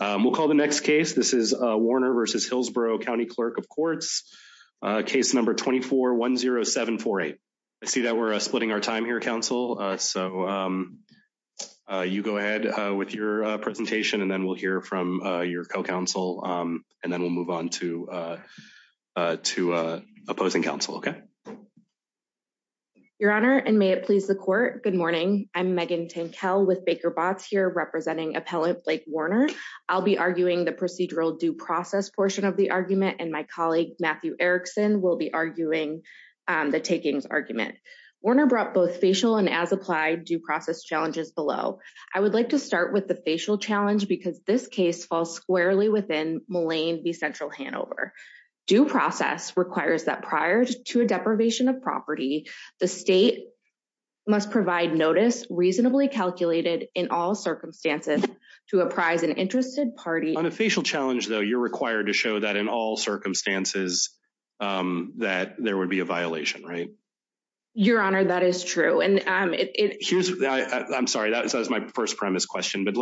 We'll call the next case. This is Warner v. Hillsborough County Clerk of Courts, case number 24-10748. I see that we're splitting our time here, Council, so you go ahead with your presentation, and then we'll hear from your co-council, and then we'll move on to opposing council, okay? Your Honor, and may it please the Court, good morning. I'm Megan Tinkell with Baker Botts here representing Appellant Blake Warner. I'll be arguing the procedural due process portion of the argument, and my colleague Matthew Erickson will be arguing the takings argument. Warner brought both facial and as-applied due process challenges below. I would like to start with the facial challenge because this case falls squarely within Mullane v. Central Hanover. Due process requires that prior to a deprivation of property, the state must provide notice reasonably calculated in all circumstances to apprise an interested party. On a facial challenge, though, you're required to show that in all circumstances that there would be a violation, right? Your Honor, that is true. I'm sorry, that was my first premise question, but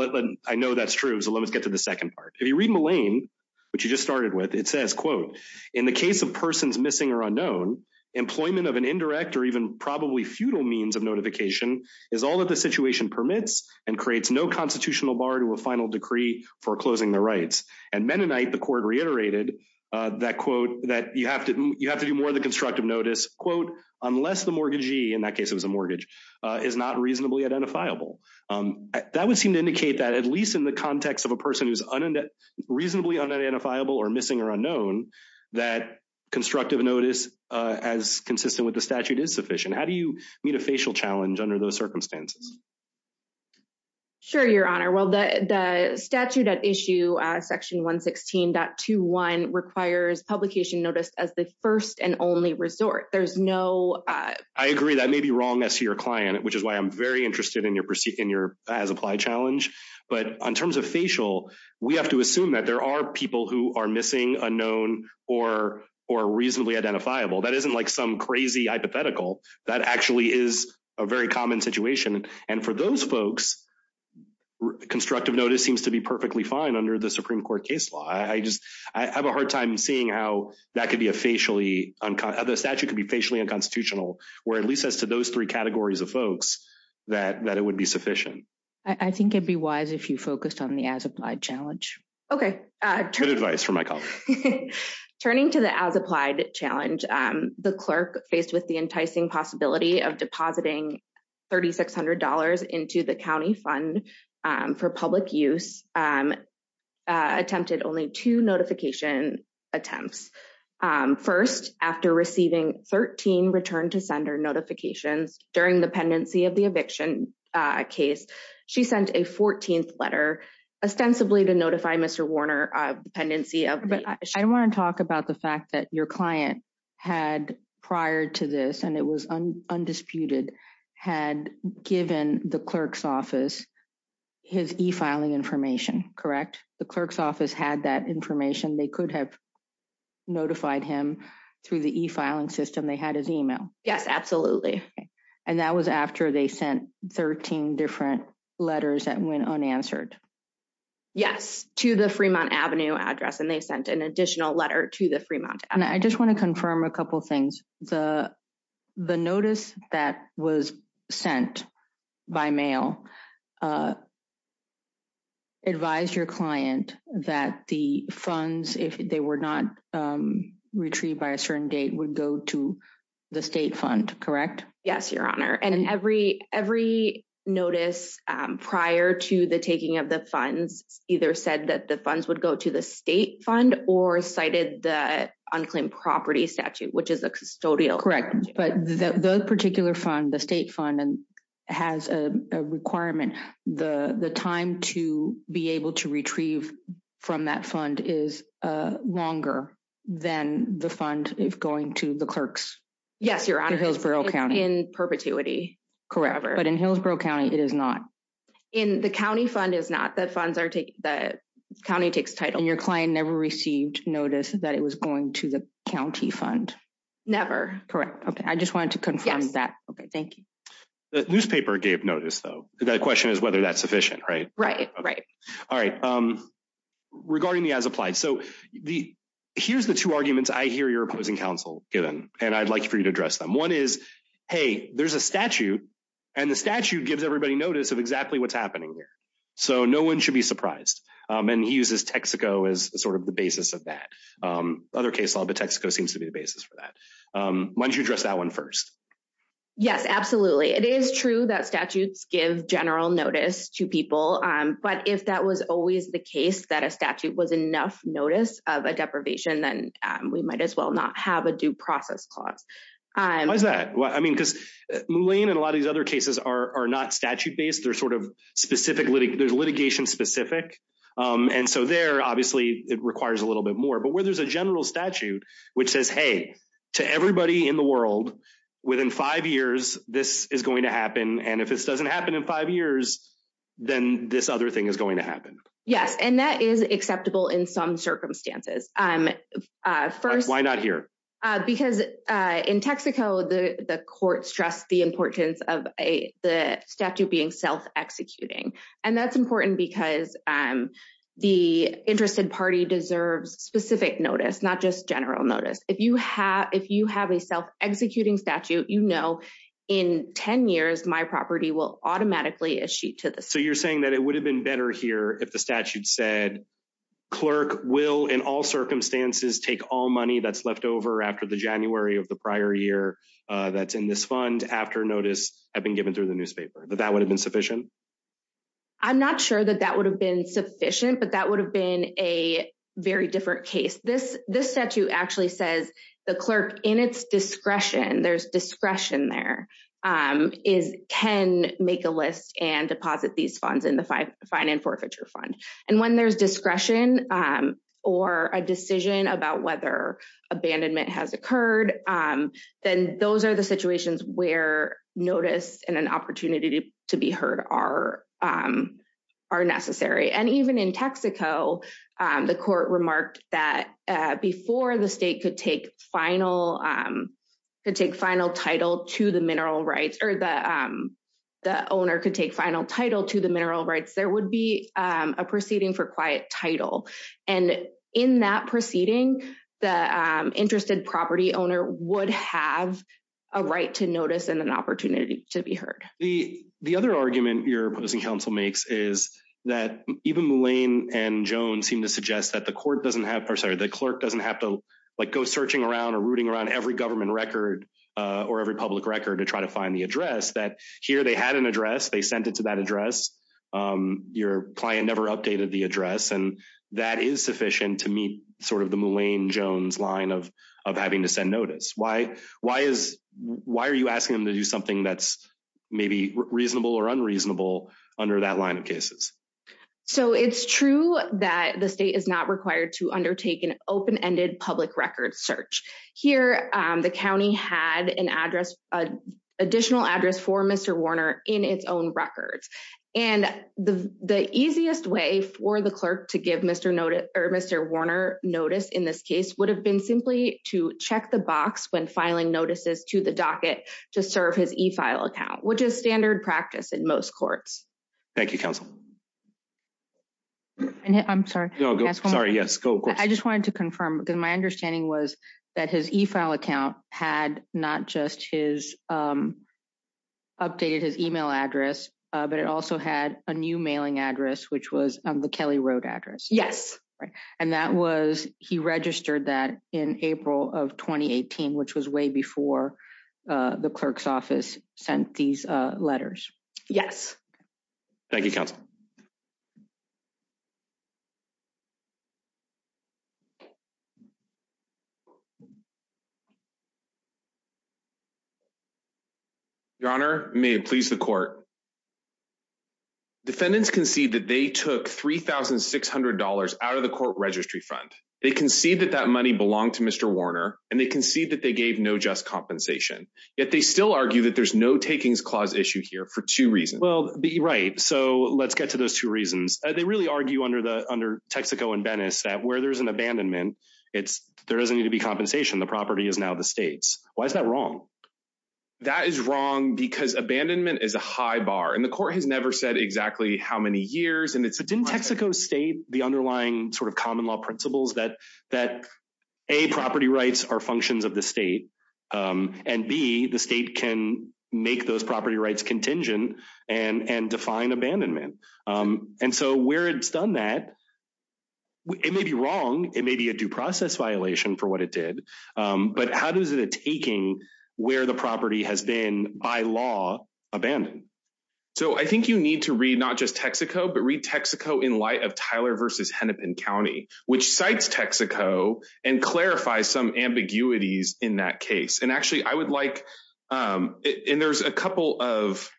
I know that's true, so let's get to the second part. If you read Mullane, which you just started with, it says, in the case of persons missing or unknown, employment of an indirect or even probably means of notification is all that the situation permits and creates no constitutional bar to a final decree for closing their rights. And Mennonite, the court reiterated that, quote, that you have to do more of the constructive notice, quote, unless the mortgagee, in that case it was a mortgage, is not reasonably identifiable. That would seem to indicate that at least in the context of a person who's reasonably unidentifiable or missing or unknown, that constructive notice as consistent with the statute is sufficient. How do you meet a facial challenge under those circumstances? Sure, Your Honor. Well, the statute at issue section 116.21 requires publication notice as the first and only resort. There's no... I agree, that may be wrong as to your client, which is why I'm very interested in your as-applied challenge. But in terms of facial, we have to assume that there are people who are missing, unknown, or reasonably identifiable. That isn't like some crazy hypothetical. That actually is a very common situation. And for those folks, constructive notice seems to be perfectly fine under the Supreme Court case law. I just, I have a hard time seeing how that could be a facially... The statute could be facially unconstitutional, or at least as to those three categories of folks, that it would be Okay. Good advice from my colleague. Turning to the as-applied challenge, the clerk faced with the enticing possibility of depositing $3,600 into the county fund for public use attempted only two notification attempts. First, after receiving 13 return to sender notifications during the pendency of the eviction case, she sent a 14th letter ostensibly to notify Mr. Warner of the pendency of... I want to talk about the fact that your client had prior to this, and it was undisputed, had given the clerk's office his e-filing information, correct? The clerk's office had that information. They could have notified him through the e-filing system. They had his e-mail. Yes, absolutely. And that was after they sent 13 different letters that went unanswered? Yes, to the Fremont Avenue address, and they sent an additional letter to the Fremont Avenue. I just want to confirm a couple things. The notice that was sent by mail advised your client that the funds, if they were not retrieved by a certain date, would go to the state fund, correct? Yes, Your Honor. And every notice prior to the taking of the funds either said that the funds would go to the state fund or cited the unclaimed property statute, which is a custodial... Correct. But the particular fund, the state fund, has a requirement. The time to be able to retrieve from that fund is longer than the fund is going to the clerk's. Yes, Your Honor. In Hillsborough County. In perpetuity. Correct. But in Hillsborough County, it is not. The county fund is not. The county takes title. And your client never received notice that it was going to the county fund? Never. Correct. Okay, I just wanted to confirm that. Okay, thank you. The newspaper gave notice though. The question is whether that's sufficient, right? Right. All right. Regarding the as-applied, so here's the two arguments I hear your opposing counsel given, and I'd like for you to address them. One is, hey, there's a statute, and the statute gives everybody notice of exactly what's happening here. So no one should be surprised. And he uses Texaco as sort of the basis of that. Other case law, but Texaco seems to be the basis for that. Why don't you address that one first? Yes, absolutely. It is true that statutes give general notice to people. But if that was always the case, that a statute was enough notice of a deprivation, then we might as well not have a due process clause. Why is that? Well, I mean, because Moulin and a lot of these other cases are not statute-based. They're sort of specific, there's litigation specific. And so there, obviously, it requires a little bit more. But where there's a general statute, which says, hey, to everybody in the world, within five years, this is going to happen. And if this doesn't happen in five years, then this other thing is going to happen. Yes, and that is acceptable in some circumstances. Why not here? Because in Texaco, the court stressed the importance of the statute being self-executing. And that's important because the interested party deserves specific notice, not just general notice. If you have a self-executing statute, you know, in 10 years, my property will automatically issue to the state. So you're saying that it would have been better here if the statute said, clerk will, in all circumstances, take all money that's left over after the January of the prior year that's in this fund after notice had been given through the newspaper, that that would have been sufficient? I'm not sure that that would have been sufficient, but that would have been a very different case. This statute actually says the clerk in its discretion, there's discretion there, can make a list and deposit these funds in the fine and forfeiture fund. And when there's discretion or a decision about whether abandonment has occurred, then those are the situations where notice and an opportunity to be heard are are necessary. And even in Texaco, the court remarked that before the state could take final, could take final title to the mineral rights or the owner could take final title to the mineral rights, there would be a proceeding for quiet title. And in that proceeding, the interested property owner would have a right to notice and an opportunity to be heard. The other argument your opposing counsel makes is that even Mullane and Jones seem to suggest that the court doesn't have, sorry, the clerk doesn't have to like go searching around or rooting around every government record or every public record to try to find the address that here they had an address, they sent it to that address. Your client never updated the address. And that is sufficient to meet sort of the Mullane-Jones line of having to send notice. Why are you asking them to do something that's maybe reasonable or unreasonable under that line of cases? So it's true that the state is not required to undertake an open-ended public record search. Here, the county had an address, additional address for Mr. Warner in its own records. And the easiest way for the clerk to give Mr. Notice or Mr. Warner notice in this case would have been simply to check the box when filing notices to the docket to serve his e-file account, which is standard practice in most courts. Thank you, counsel. I'm sorry. Sorry. Yes. I just wanted to confirm because my understanding was that his e-file account had not just his updated his email address, but it also had a new mailing address, which was the Kelly Road address. Yes. Right. And that was he registered that in April of 2018, which was way before the clerk's office sent these letters. Yes. Thank you, counsel. Your Honor, may it please the court. Defendants concede that they took $3,600 out of the court registry fund. They concede that that money belonged to Mr. Warner and they concede that they gave no just compensation, yet they still argue that there's no takings clause issue here for two reasons. Well, right. So let's get to those two reasons. They really argue under the under Texaco and Venice that where there's an abandonment, it's there doesn't need to be compensation. The property is now the state's. Why is that wrong? That is wrong because abandonment is a high bar and the court has never said exactly how many years and it's in Texaco state, the underlying sort of common law principles that that a property rights are functions of the state and be the state can make those property rights contingent and and define abandonment. And so where it's done that it may be wrong. It may be a due process violation for what it did, but how does it taking where the property has been by law abandoned? So I think you need to read not just Texaco, but read Texaco in light of Tyler versus Hennepin County, which cites Texaco and clarify some ambiguities in that case. And actually, I would like and there's a couple of.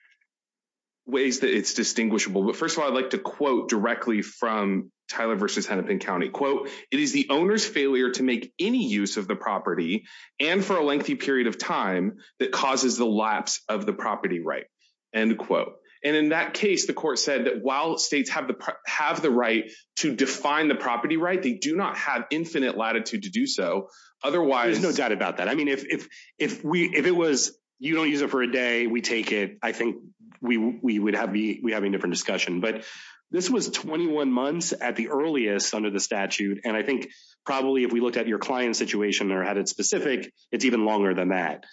Ways that it's distinguishable, but first of all, I'd like to quote directly from Tyler versus Hennepin County quote. It is the owner's failure to make any use of the property and for a lengthy period of time that causes the lapse of the property right and quote. And in that case, the court said that while states have the have the right to define the right, they do not have infinite latitude to do so. Otherwise, there's no doubt about that. I mean, if if if we if it was you don't use it for a day, we take it. I think we we would have be we have a different discussion, but this was 21 months at the earliest under the statute. And I think probably if we looked at your client situation or had it specific, it's even longer than that.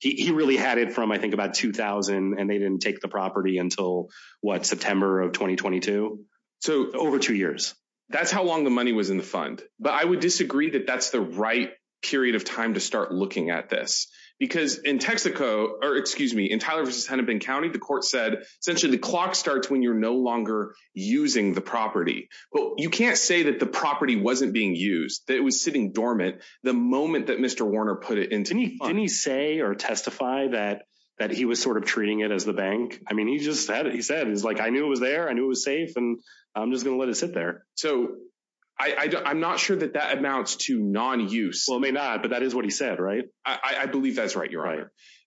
He really had it from I think about 2000 and they didn't take the property until what September of 2022. So over two years, that's how long the money was in the fund. But I would disagree that that's the right period of time to start looking at this because in Texaco or excuse me in Tyler versus Hennepin County, the court said essentially the clock starts when you're no longer using the property, but you can't say that the property wasn't being used that it was sitting dormant. The moment that Mr. Warner put it into any say or testify that that he was sort of treating it as the bank. I mean, he just said he said he's like, I knew it was there and it was safe and I'm just going to let it sit there. So I'm not sure that that amounts to non-use. Well, it may not, but that is what he said, right? I believe that's right. You're right.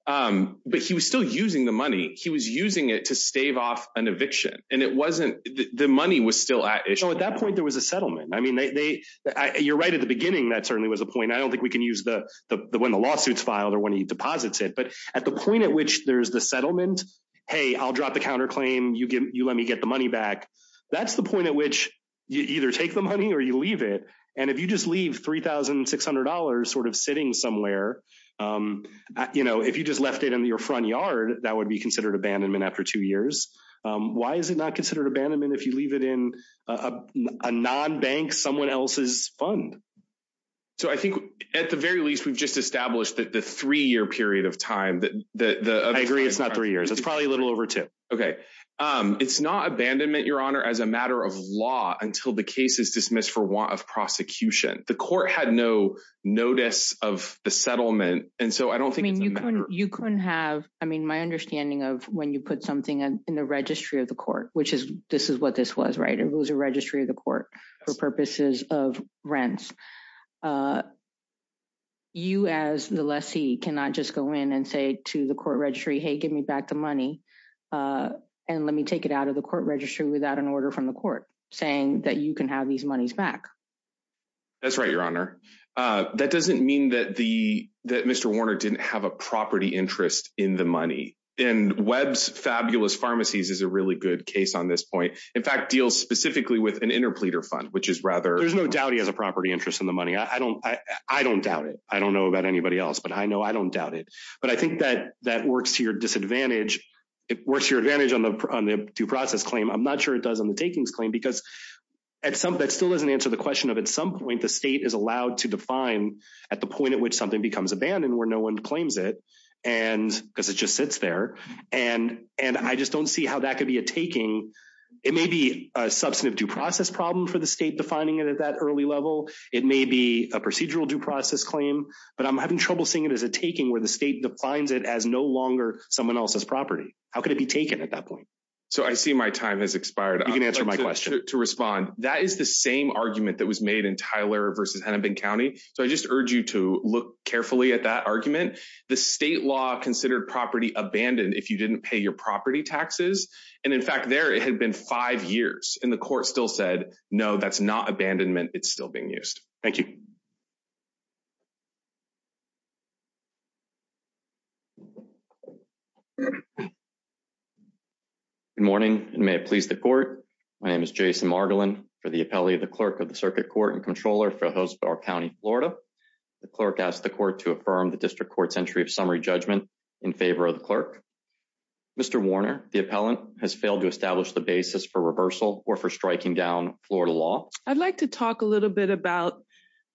But he was still using the money. He was using it to stave off an eviction and it wasn't the money was still at issue. At that point, there was a settlement. I mean, you're right at the beginning. That certainly was a point. I don't think we can use the when the lawsuits filed or when he deposits it, but at the point at which there's the settlement, hey, I'll drop the counterclaim. You let me get the money back. That's the point at which you either take the money or you leave it. And if you just leave $3,600 sort of sitting somewhere, if you just left it in your front yard, that would be considered abandonment after two years. Why is it not considered abandonment if you leave it in a non-bank someone else's fund? So I think at the very least, we've just established that the three year period of time that I agree, it's not three years. It's probably a little over two. Okay. It's not abandonment, your honor, as a matter of law until the case is dismissed for want of prosecution. The court had no notice of the settlement. And so I don't think you couldn't have, I mean, my understanding of when you put something in the registry of the court, which is, this is what this was, right? It was a registry of the court for purposes of rents. You as the lessee cannot just go in and say to the court registry, hey, give me back the money. And let me take it out of the court registry without an order from the court saying that you can have these monies back. That's right, your honor. That doesn't mean that Mr. Warner didn't have a property interest in the money. And Webb's Fabulous Pharmacies is a really good case on this point. In fact, deals specifically with an interpleader fund, which is rather- There's no doubt he has a property interest in the money. I don't doubt it. I don't know about anybody else, but I know I don't doubt it. But I think that works to your disadvantage. It works to your advantage on the due process claim. I'm not sure it does on the takings claim because that still doesn't answer the question of at some point, the state is allowed to define at the point at which something becomes abandoned where no one claims it, because it just sits there. And I just don't see how that could be a taking. It may be a substantive due process problem for the state defining it at that early level. It may be a procedural due process claim. But I'm having trouble seeing it as a taking where the state defines it as no longer someone else's property. How could it be taken at that point? So I see my time has expired. You can answer my question. To respond. That is the same argument that was made in Tyler versus Hennepin County. So I just urge you to look carefully at that argument. The state law considered property abandoned if you didn't pay your property taxes. And in fact, there it had been five years and the court still said, no, that's not abandonment. It's still being used. Thank you. Good morning and may it please the court. My name is Jason Margolin for the appellee, the clerk of the circuit court and controller for Hillsborough County, Florida. The clerk asked the court to affirm the district court's entry of summary judgment in favor of the clerk. Mr. Warner, the appellant has failed to establish the basis for reversal or for striking down Florida law. I'd like to talk a little bit about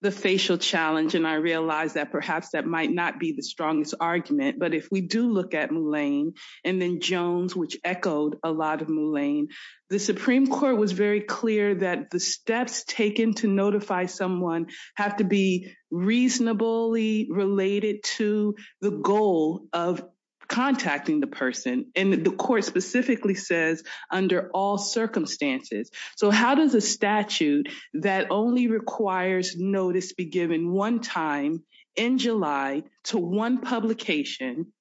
the facial challenge. And I realize that perhaps that might not be the strongest argument. But if we do look at Moulin and then Jones, which echoed a lot of Moulin, the Supreme court was very clear that the steps taken to notify someone have to be reasonably related to the goal of contacting the person. And the court specifically says under all circumstances. So how does a statute that only requires notice be given one time in July to one publication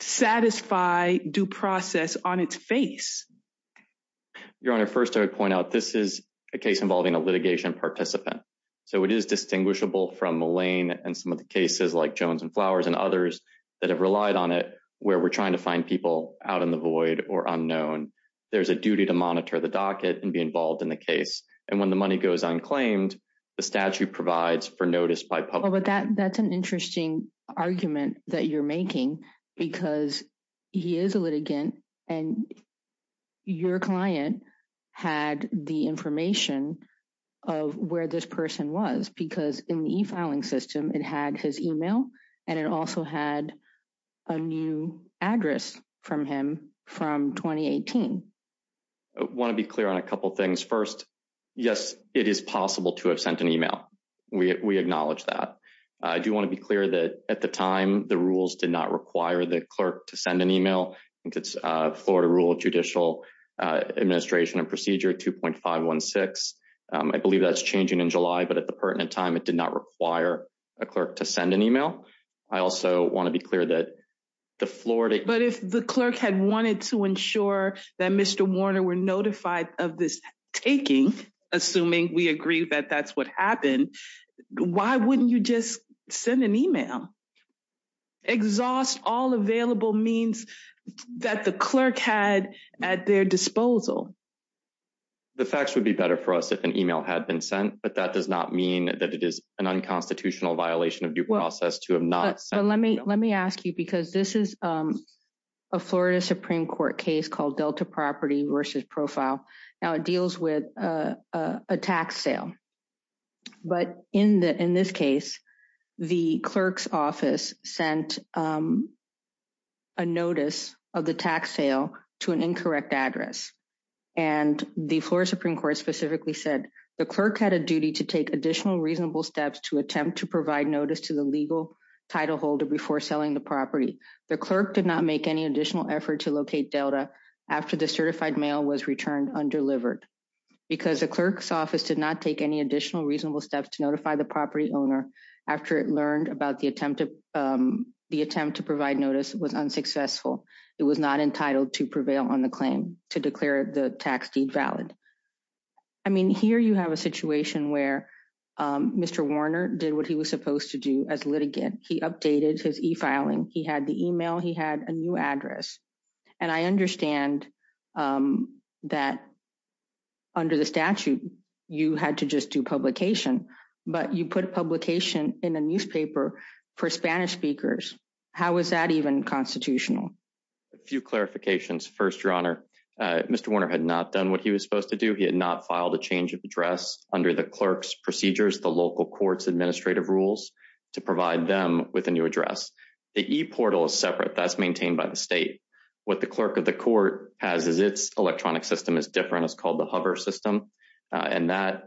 satisfy due process on its face? Your Honor, first I would point out this is a case involving a litigation participant. So it is distinguishable from Moulin and some of the cases like Jones and Flowers and others that have relied on it, where we're trying to find people out in the void or unknown. There's a duty to monitor the docket and be involved in the case. And when the money goes unclaimed, the statute provides for notice by public. That's an interesting argument that you're making because he is a litigant and your client had the information of where this person was because in the e-filing system, it had his email and it also had a new address from him from 2018. Want to be clear on a couple of things. First, yes, it is possible to have sent an email. We acknowledge that. I do want to be clear that at the time, the rules did not require the clerk to send an email. I think it's Florida Rule of Judicial Administration and Procedure 2.516. I believe that's changing in July, but at the pertinent time, it did not require a clerk to send an email. I also want to be clear that the Florida- But if the clerk had wanted to ensure that Mr. Warner were notified of this taking, assuming we agree that that's what happened, why wouldn't you just send an email? Exhaust all available means that the clerk had at their disposal. The facts would be better for us if an email had been sent, but that does not mean that it is an unconstitutional violation of due process to have not sent an email. Let me ask you because this is a Florida Supreme Court case called Delta Property versus Profile. Now, it deals with a tax sale. But in this case, the clerk's office sent a notice of the tax sale to an incorrect address. And the Florida Supreme Court specifically said the clerk had a duty to take additional reasonable steps to attempt to provide notice to the legal title holder before selling the property. The clerk did not make any additional effort to locate Delta after the certified mail was returned undelivered because the clerk's office did not take any additional reasonable steps to notify the property owner after it learned about the attempt to provide notice was unsuccessful. It was not entitled to prevail on the claim to declare the tax deed valid. I mean, here you have a situation where Mr. Warner did what he was supposed to do as litigant. He updated his e-filing. He had the email. He had a new address. And I understand that under the statute, you had to just do publication, but you put publication in a newspaper for Spanish speakers. How is that even constitutional? A few clarifications. First, Your Honor, Mr. Warner had not done what he was supposed to do. He had not filed a change of address under the clerk's procedures, the local court's administrative rules to provide them with a new address. The e-portal is separate. That's maintained by the state. What the clerk of the court has is its electronic system is different. It's called the hover system. And that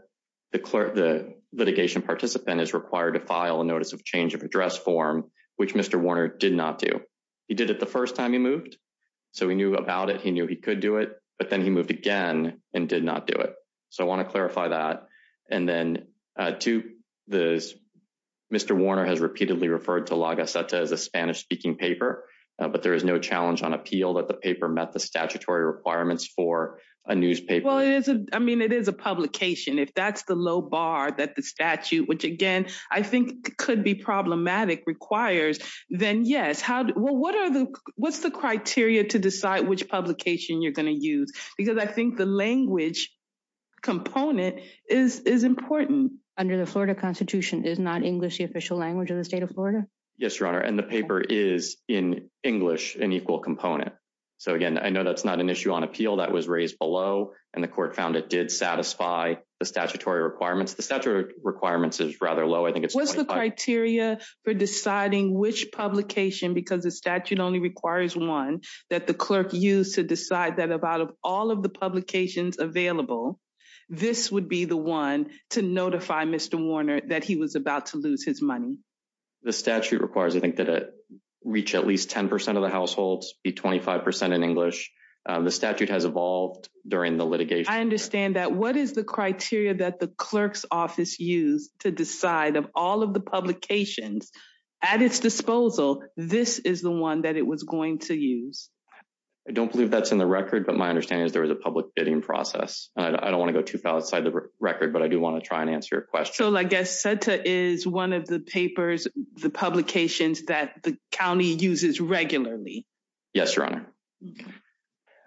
the litigation participant is required to file a notice of change of address form, which Mr. Warner did not do. He did it the first time he moved. So he knew about it. He knew he could do it. But then he moved again and did not do it. So I want to clarify that. And then, Mr. Warner has repeatedly referred to La Gaceta as a Spanish-speaking paper, but there is no challenge on appeal that the paper met the statutory requirements for a newspaper. Well, I mean, it is a publication. If that's the low bar that the statute, which again, I think could be problematic, requires, then yes. What's the criteria to decide which publication you're going to use? Because I think the language component is important. Under the Florida Constitution, is not English the official language of the state of Florida? Yes, Your Honor. And the paper is in English an equal component. So again, I know that's not an issue on appeal. That was raised below. And the court found it did satisfy the statutory requirements. The statutory requirements is rather low. I think it's 25. What's the criteria for deciding which publication, because the statute only requires one, that the clerk used to decide that out of all of the publications available, this would be the one to notify Mr. Warner that he was about to lose his money? The statute requires, I think, that it reach at least 10% of the households, be 25% in English. The statute has evolved during the litigation. I understand that. What is the criteria that the clerk's office used to decide of all of the publications at its disposal, this is the one that it was going to use? I don't believe that's in the record. But my understanding is there was a public bidding process. I don't want to go too far outside the record, but I do want to try and answer your question. So I guess SETA is one of the papers, the publications that the county uses regularly. Yes, Your Honor.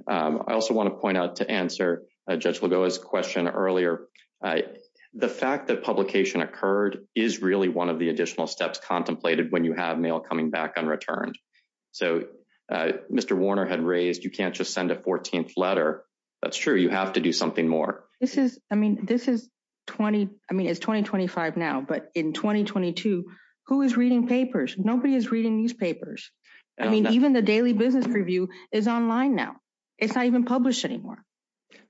I also want to point out to answer Judge Lagoa's question earlier. The fact that publication occurred is really one of the additional steps contemplated when you have mail coming back unreturned. So Mr. Warner had raised, you can't just send a 14th letter. That's true. You have to do something more. This is, I mean, this is 20, I mean, it's 2025 now, but in 2022, who is reading papers? Nobody is reading newspapers. I mean, even the Daily Business Review is online now. It's not even published anymore.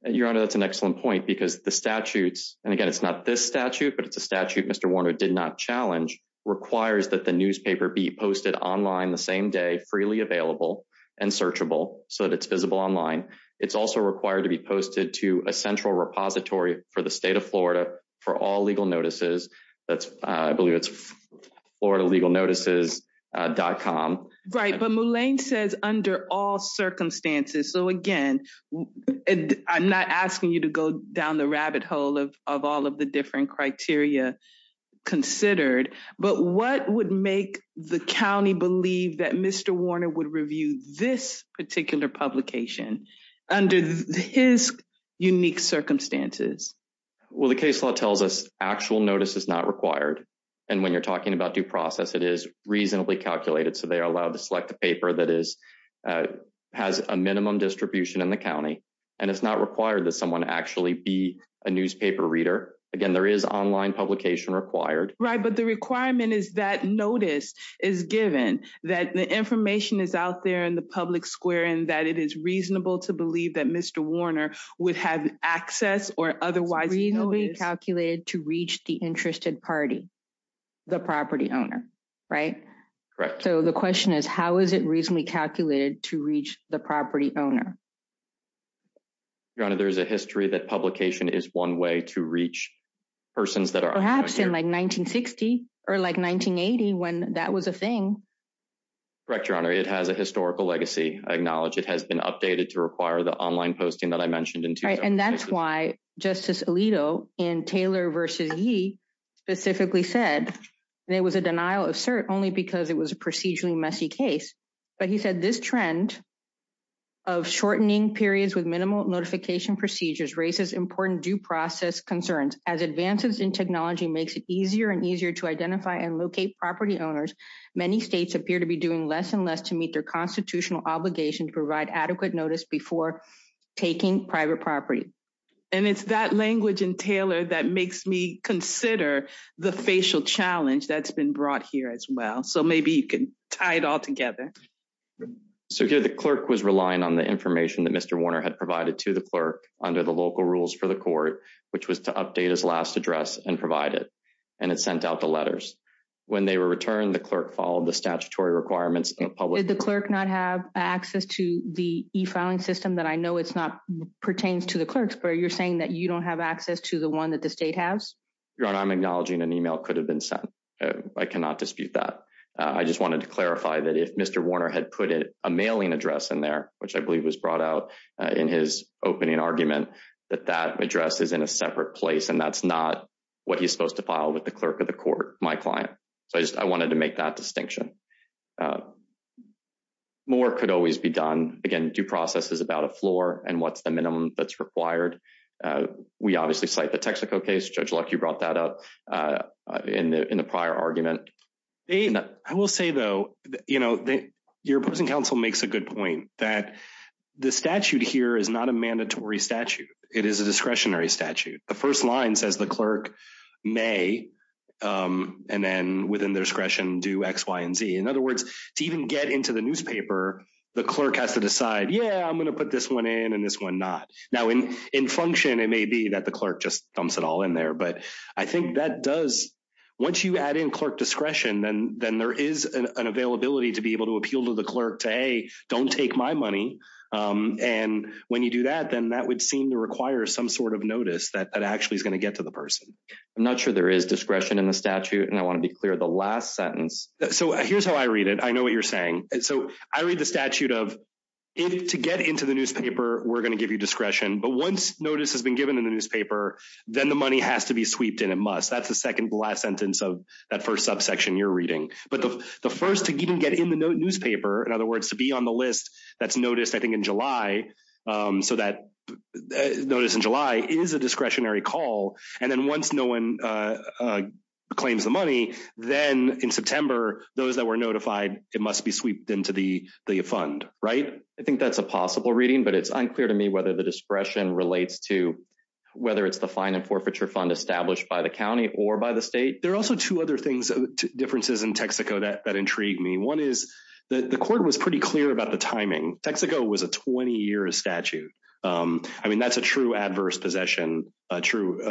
Your Honor, that's an excellent point because the statutes, and again, it's not this statute, but it's a statute Mr. Warner did not challenge, requires that the newspaper be posted online same day, freely available and searchable so that it's visible online. It's also required to be posted to a central repository for the state of Florida for all legal notices. That's, I believe it's floridalegalnotices.com. Right. But Mulane says under all circumstances. So again, I'm not asking you to go down the rabbit hole of all of the different criteria considered, but what would make the county believe that Mr. Warner would review this particular publication under his unique circumstances? Well, the case law tells us actual notice is not required. And when you're talking about due process, it is reasonably calculated. So they are allowed to select the paper that has a minimum distribution in the county. And it's not required that someone actually be a newspaper reader. Again, there is online publication required. But the requirement is that notice is given that the information is out there in the public square and that it is reasonable to believe that Mr. Warner would have access or otherwise reasonably calculated to reach the interested party, the property owner, right? Correct. So the question is, how is it reasonably calculated to reach the property owner? Your Honor, there's a history that publication is one way to reach persons that are. Perhaps in like 1960 or like 1980 when that was a thing. Correct, Your Honor. It has a historical legacy. I acknowledge it has been updated to require the online posting that I mentioned in. Right. And that's why Justice Alito in Taylor versus Yee specifically said there was a denial of cert only because it was a procedurally messy case. But he said this trend of shortening periods with minimal notification procedures raises important due process concerns as advances in technology makes it easier and easier to identify and locate property owners. Many states appear to be doing less and less to meet their constitutional obligation to provide adequate notice before taking private property. And it's that language in Taylor that makes me consider the facial challenge that's been brought here as well. So maybe you can tie it all together. So here the clerk was relying on the information that Mr. Warner had provided to the clerk under the local rules for the court, which was to update his last address and provide it. And it sent out the letters. When they were returned, the clerk followed the statutory requirements in public. Did the clerk not have access to the e-filing system that I know it's not pertains to the clerks, but you're saying that you don't have access to the one that the state has? Your Honor, I'm acknowledging an email could have been sent. I cannot dispute that. I just wanted to clarify that if Mr. Warner had put in a mailing address in there, which I believe was brought out in his opening argument, that that address is in a separate place and that's not what he's supposed to file with the clerk of the court, my client. So I wanted to make that distinction. More could always be done. Again, due process is about a floor and what's the minimum that's required. We obviously cite the Texaco case. Judge Luck, you brought that up in the prior argument. They, I will say though, your opposing counsel makes a good point that the statute here is not a mandatory statute. It is a discretionary statute. The first line says the clerk may, and then within their discretion, do X, Y, and Z. In other words, to even get into the newspaper, the clerk has to decide, yeah, I'm going to put this one in and this one not. Now in function, it may be that the clerk just dumps it all in there. But I think that does, once you add in clerk discretion, then there is an availability to be able to appeal to the clerk to, hey, don't take my money. And when you do that, then that would seem to require some sort of notice that actually is going to get to the person. I'm not sure there is discretion in the statute. And I want to be clear, the last sentence. So here's how I read it. I know what you're saying. So I read the statute of, to get into the newspaper, we're going to give you discretion. But once notice has been given in the newspaper, then the money has to be sweeped in. It must. That's the second last sentence of that first subsection you're reading. But the first to even get in the newspaper, in other words, to be on the list that's noticed, I think in July, so that notice in July is a discretionary call. And then once no one claims the money, then in September, those that were notified, it must be sweeped into the fund, right? I think that's a possible reading, but it's unclear to me whether the discretion relates to whether it's the fine and forfeiture fund established by the county or by the state. There are also two other things, differences in Texaco that intrigue me. One is that the court was pretty clear about the timing. Texaco was a 20-year statute. I mean, that's a true adverse possession, a true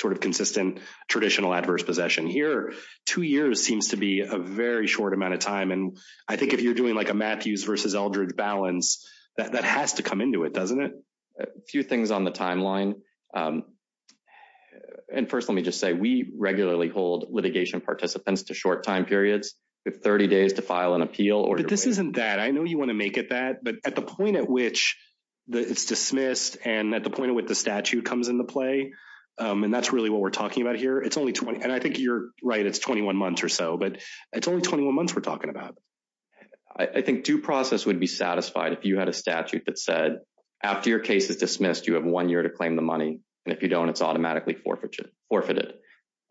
sort of consistent, traditional adverse possession. Here, two years seems to be a very short amount of time. And I think if you're doing like a Matthews versus Eldridge balance, that has to come into it, doesn't it? A few things on the timeline. And first, let me just say we regularly hold litigation participants to short time periods with 30 days to file an appeal. But this isn't that. I know you want to make it that, but at the point at which it's dismissed and at the point of what the statute comes into play, and that's really what we're talking about here, it's only 20, and I think you're right. It's 21 months or so. It's only 21 months we're talking about. I think due process would be satisfied if you had a statute that said after your case is dismissed, you have one year to claim the money. And if you don't, it's automatically forfeited.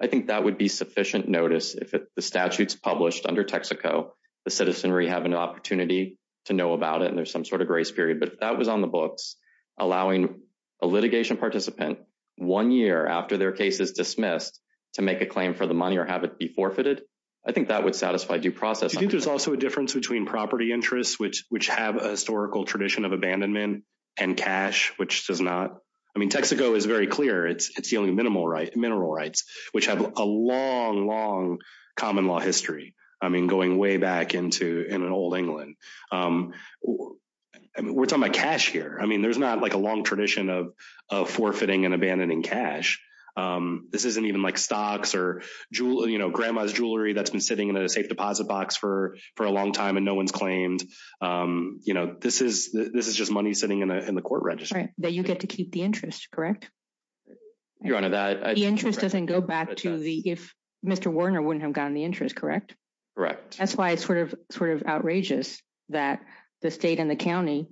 I think that would be sufficient notice if the statute's published under Texaco, the citizenry have an opportunity to know about it and there's some sort of grace period. But if that was on the books, allowing a litigation participant one year after their case is forfeited, I think that would satisfy due process. I think there's also a difference between property interests, which have a historical tradition of abandonment and cash, which does not. I mean, Texaco is very clear. It's the only mineral rights, which have a long, long common law history. I mean, going way back into an old England. We're talking about cash here. I mean, there's not like a long tradition of forfeiting and abandoning cash. This isn't even like stocks or grandma's jewelry that's been sitting in a safe deposit box for a long time and no one's claimed. This is just money sitting in the court registry. That you get to keep the interest, correct? Your Honor, that... The interest doesn't go back to the... If Mr. Warner wouldn't have gotten the interest, correct? Correct. That's why it's sort of outrageous that the state and the county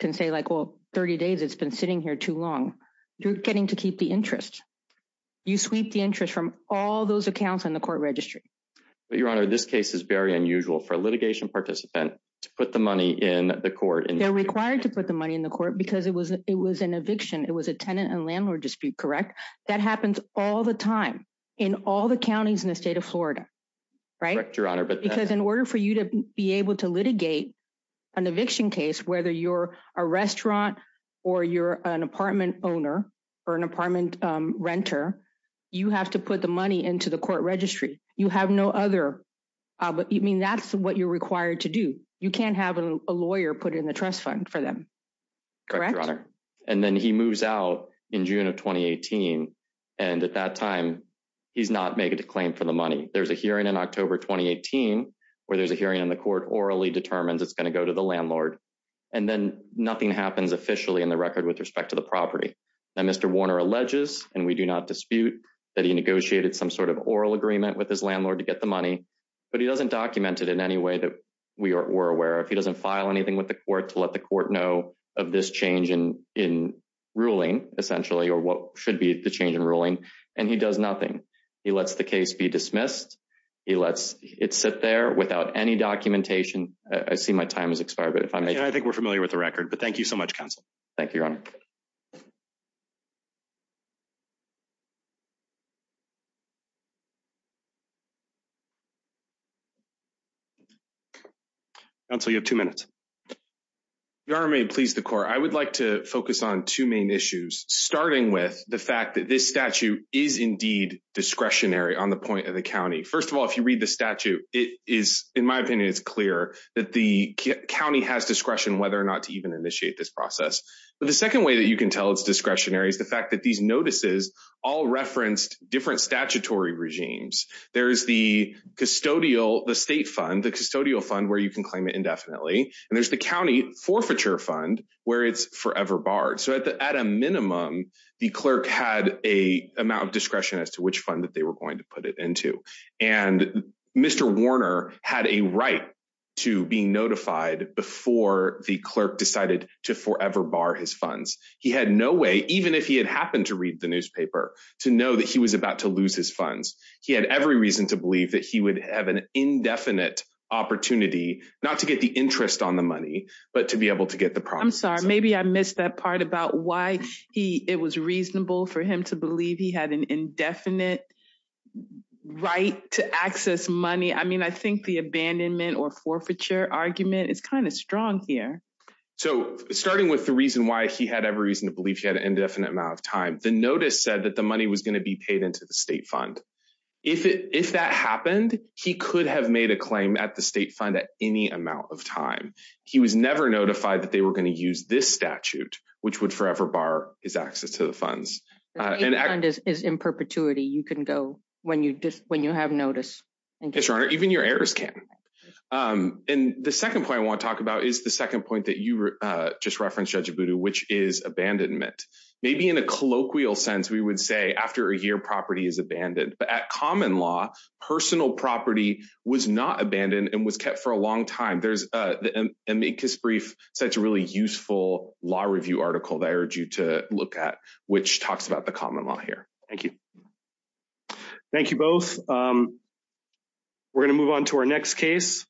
can say like, well, 30 days, it's been sitting here too long. You're getting to keep the interest. You sweep the interest from all those accounts in the court registry. But Your Honor, this case is very unusual for a litigation participant to put the money in the court and... They're required to put the money in the court because it was an eviction. It was a tenant and landlord dispute, correct? That happens all the time in all the counties in the state of Florida, right? Correct, Your Honor, but... Because in order for you to be able to litigate an eviction case, whether you're a restaurant or you're an apartment owner or an apartment renter, you have to put the money into the court registry. You have no other... But I mean, that's what you're required to do. You can't have a lawyer put in the trust fund for them, correct? And then he moves out in June of 2018. And at that time, he's not making a claim for the money. There's a hearing in October 2018, where there's a hearing in the court orally determines it's going to go to the landlord. And then nothing happens officially in the record with respect to the property. Now, Mr. Warner alleges, and we do not dispute, that he negotiated some sort of oral agreement with his landlord to get the money. But he doesn't document it in any way that we're aware of. He doesn't file anything with the court to let the court know of this change in ruling, essentially, or what should be the change in ruling. And he does nothing. He lets the case be dismissed. He lets it sit there without any documentation. I see my time has expired. But if I may- I think we're familiar with the record. But thank you so much, counsel. Thank you, Your Honor. Counsel, you have two minutes. Your Honor, may it please the court, I would like to focus on two main issues, starting with the fact that this statute is indeed discretionary on the point of the county. First of all, if you read the statute, it is, in my opinion, it's clear that the county has discretion whether or not to even initiate this process. But the second way that you can tell it's discretionary is the fact that these notices all referenced different statutory regimes. There's the custodial, the state fund, the custodial fund, where you can claim it indefinitely. And there's the county forfeiture fund, where it's forever barred. So at a minimum, the clerk had a amount of discretion as to which fund that they were going to put it into. And Mr. Warner had a right to be notified before the clerk decided to forever bar his funds. He had no way, even if he had happened to read the newspaper, to know that he was about to lose his funds. He had every reason to believe that he would have an indefinite opportunity, not to get the interest on the money, but to be able to get the promise. I'm sorry, maybe I missed that part about why it was reasonable for him to believe he had an indefinite right to access money. I mean, I think the abandonment or forfeiture argument is kind of strong here. So starting with the reason why he had every reason to believe he had an indefinite amount of time, the notice said that the money was going to be paid into the state fund. If that happened, he could have made a claim at the state fund at any amount of time. He was never notified that they were going to use this statute, which would forever bar his access to the funds. And that is in perpetuity. You can go when you when you have notice. Yes, Your Honor, even your heirs can. And the second point I want to talk about is the second point that you just referenced, Judge Abudu, which is abandonment. Maybe in a colloquial sense, we would say after a year, property is abandoned. But at common law, personal property was not abandoned and was kept for a long time. There's an amicus brief, such a really useful law review article that I urge you to look at, which talks about the common law here. Thank you. Thank you both. We're going to move on to our next case.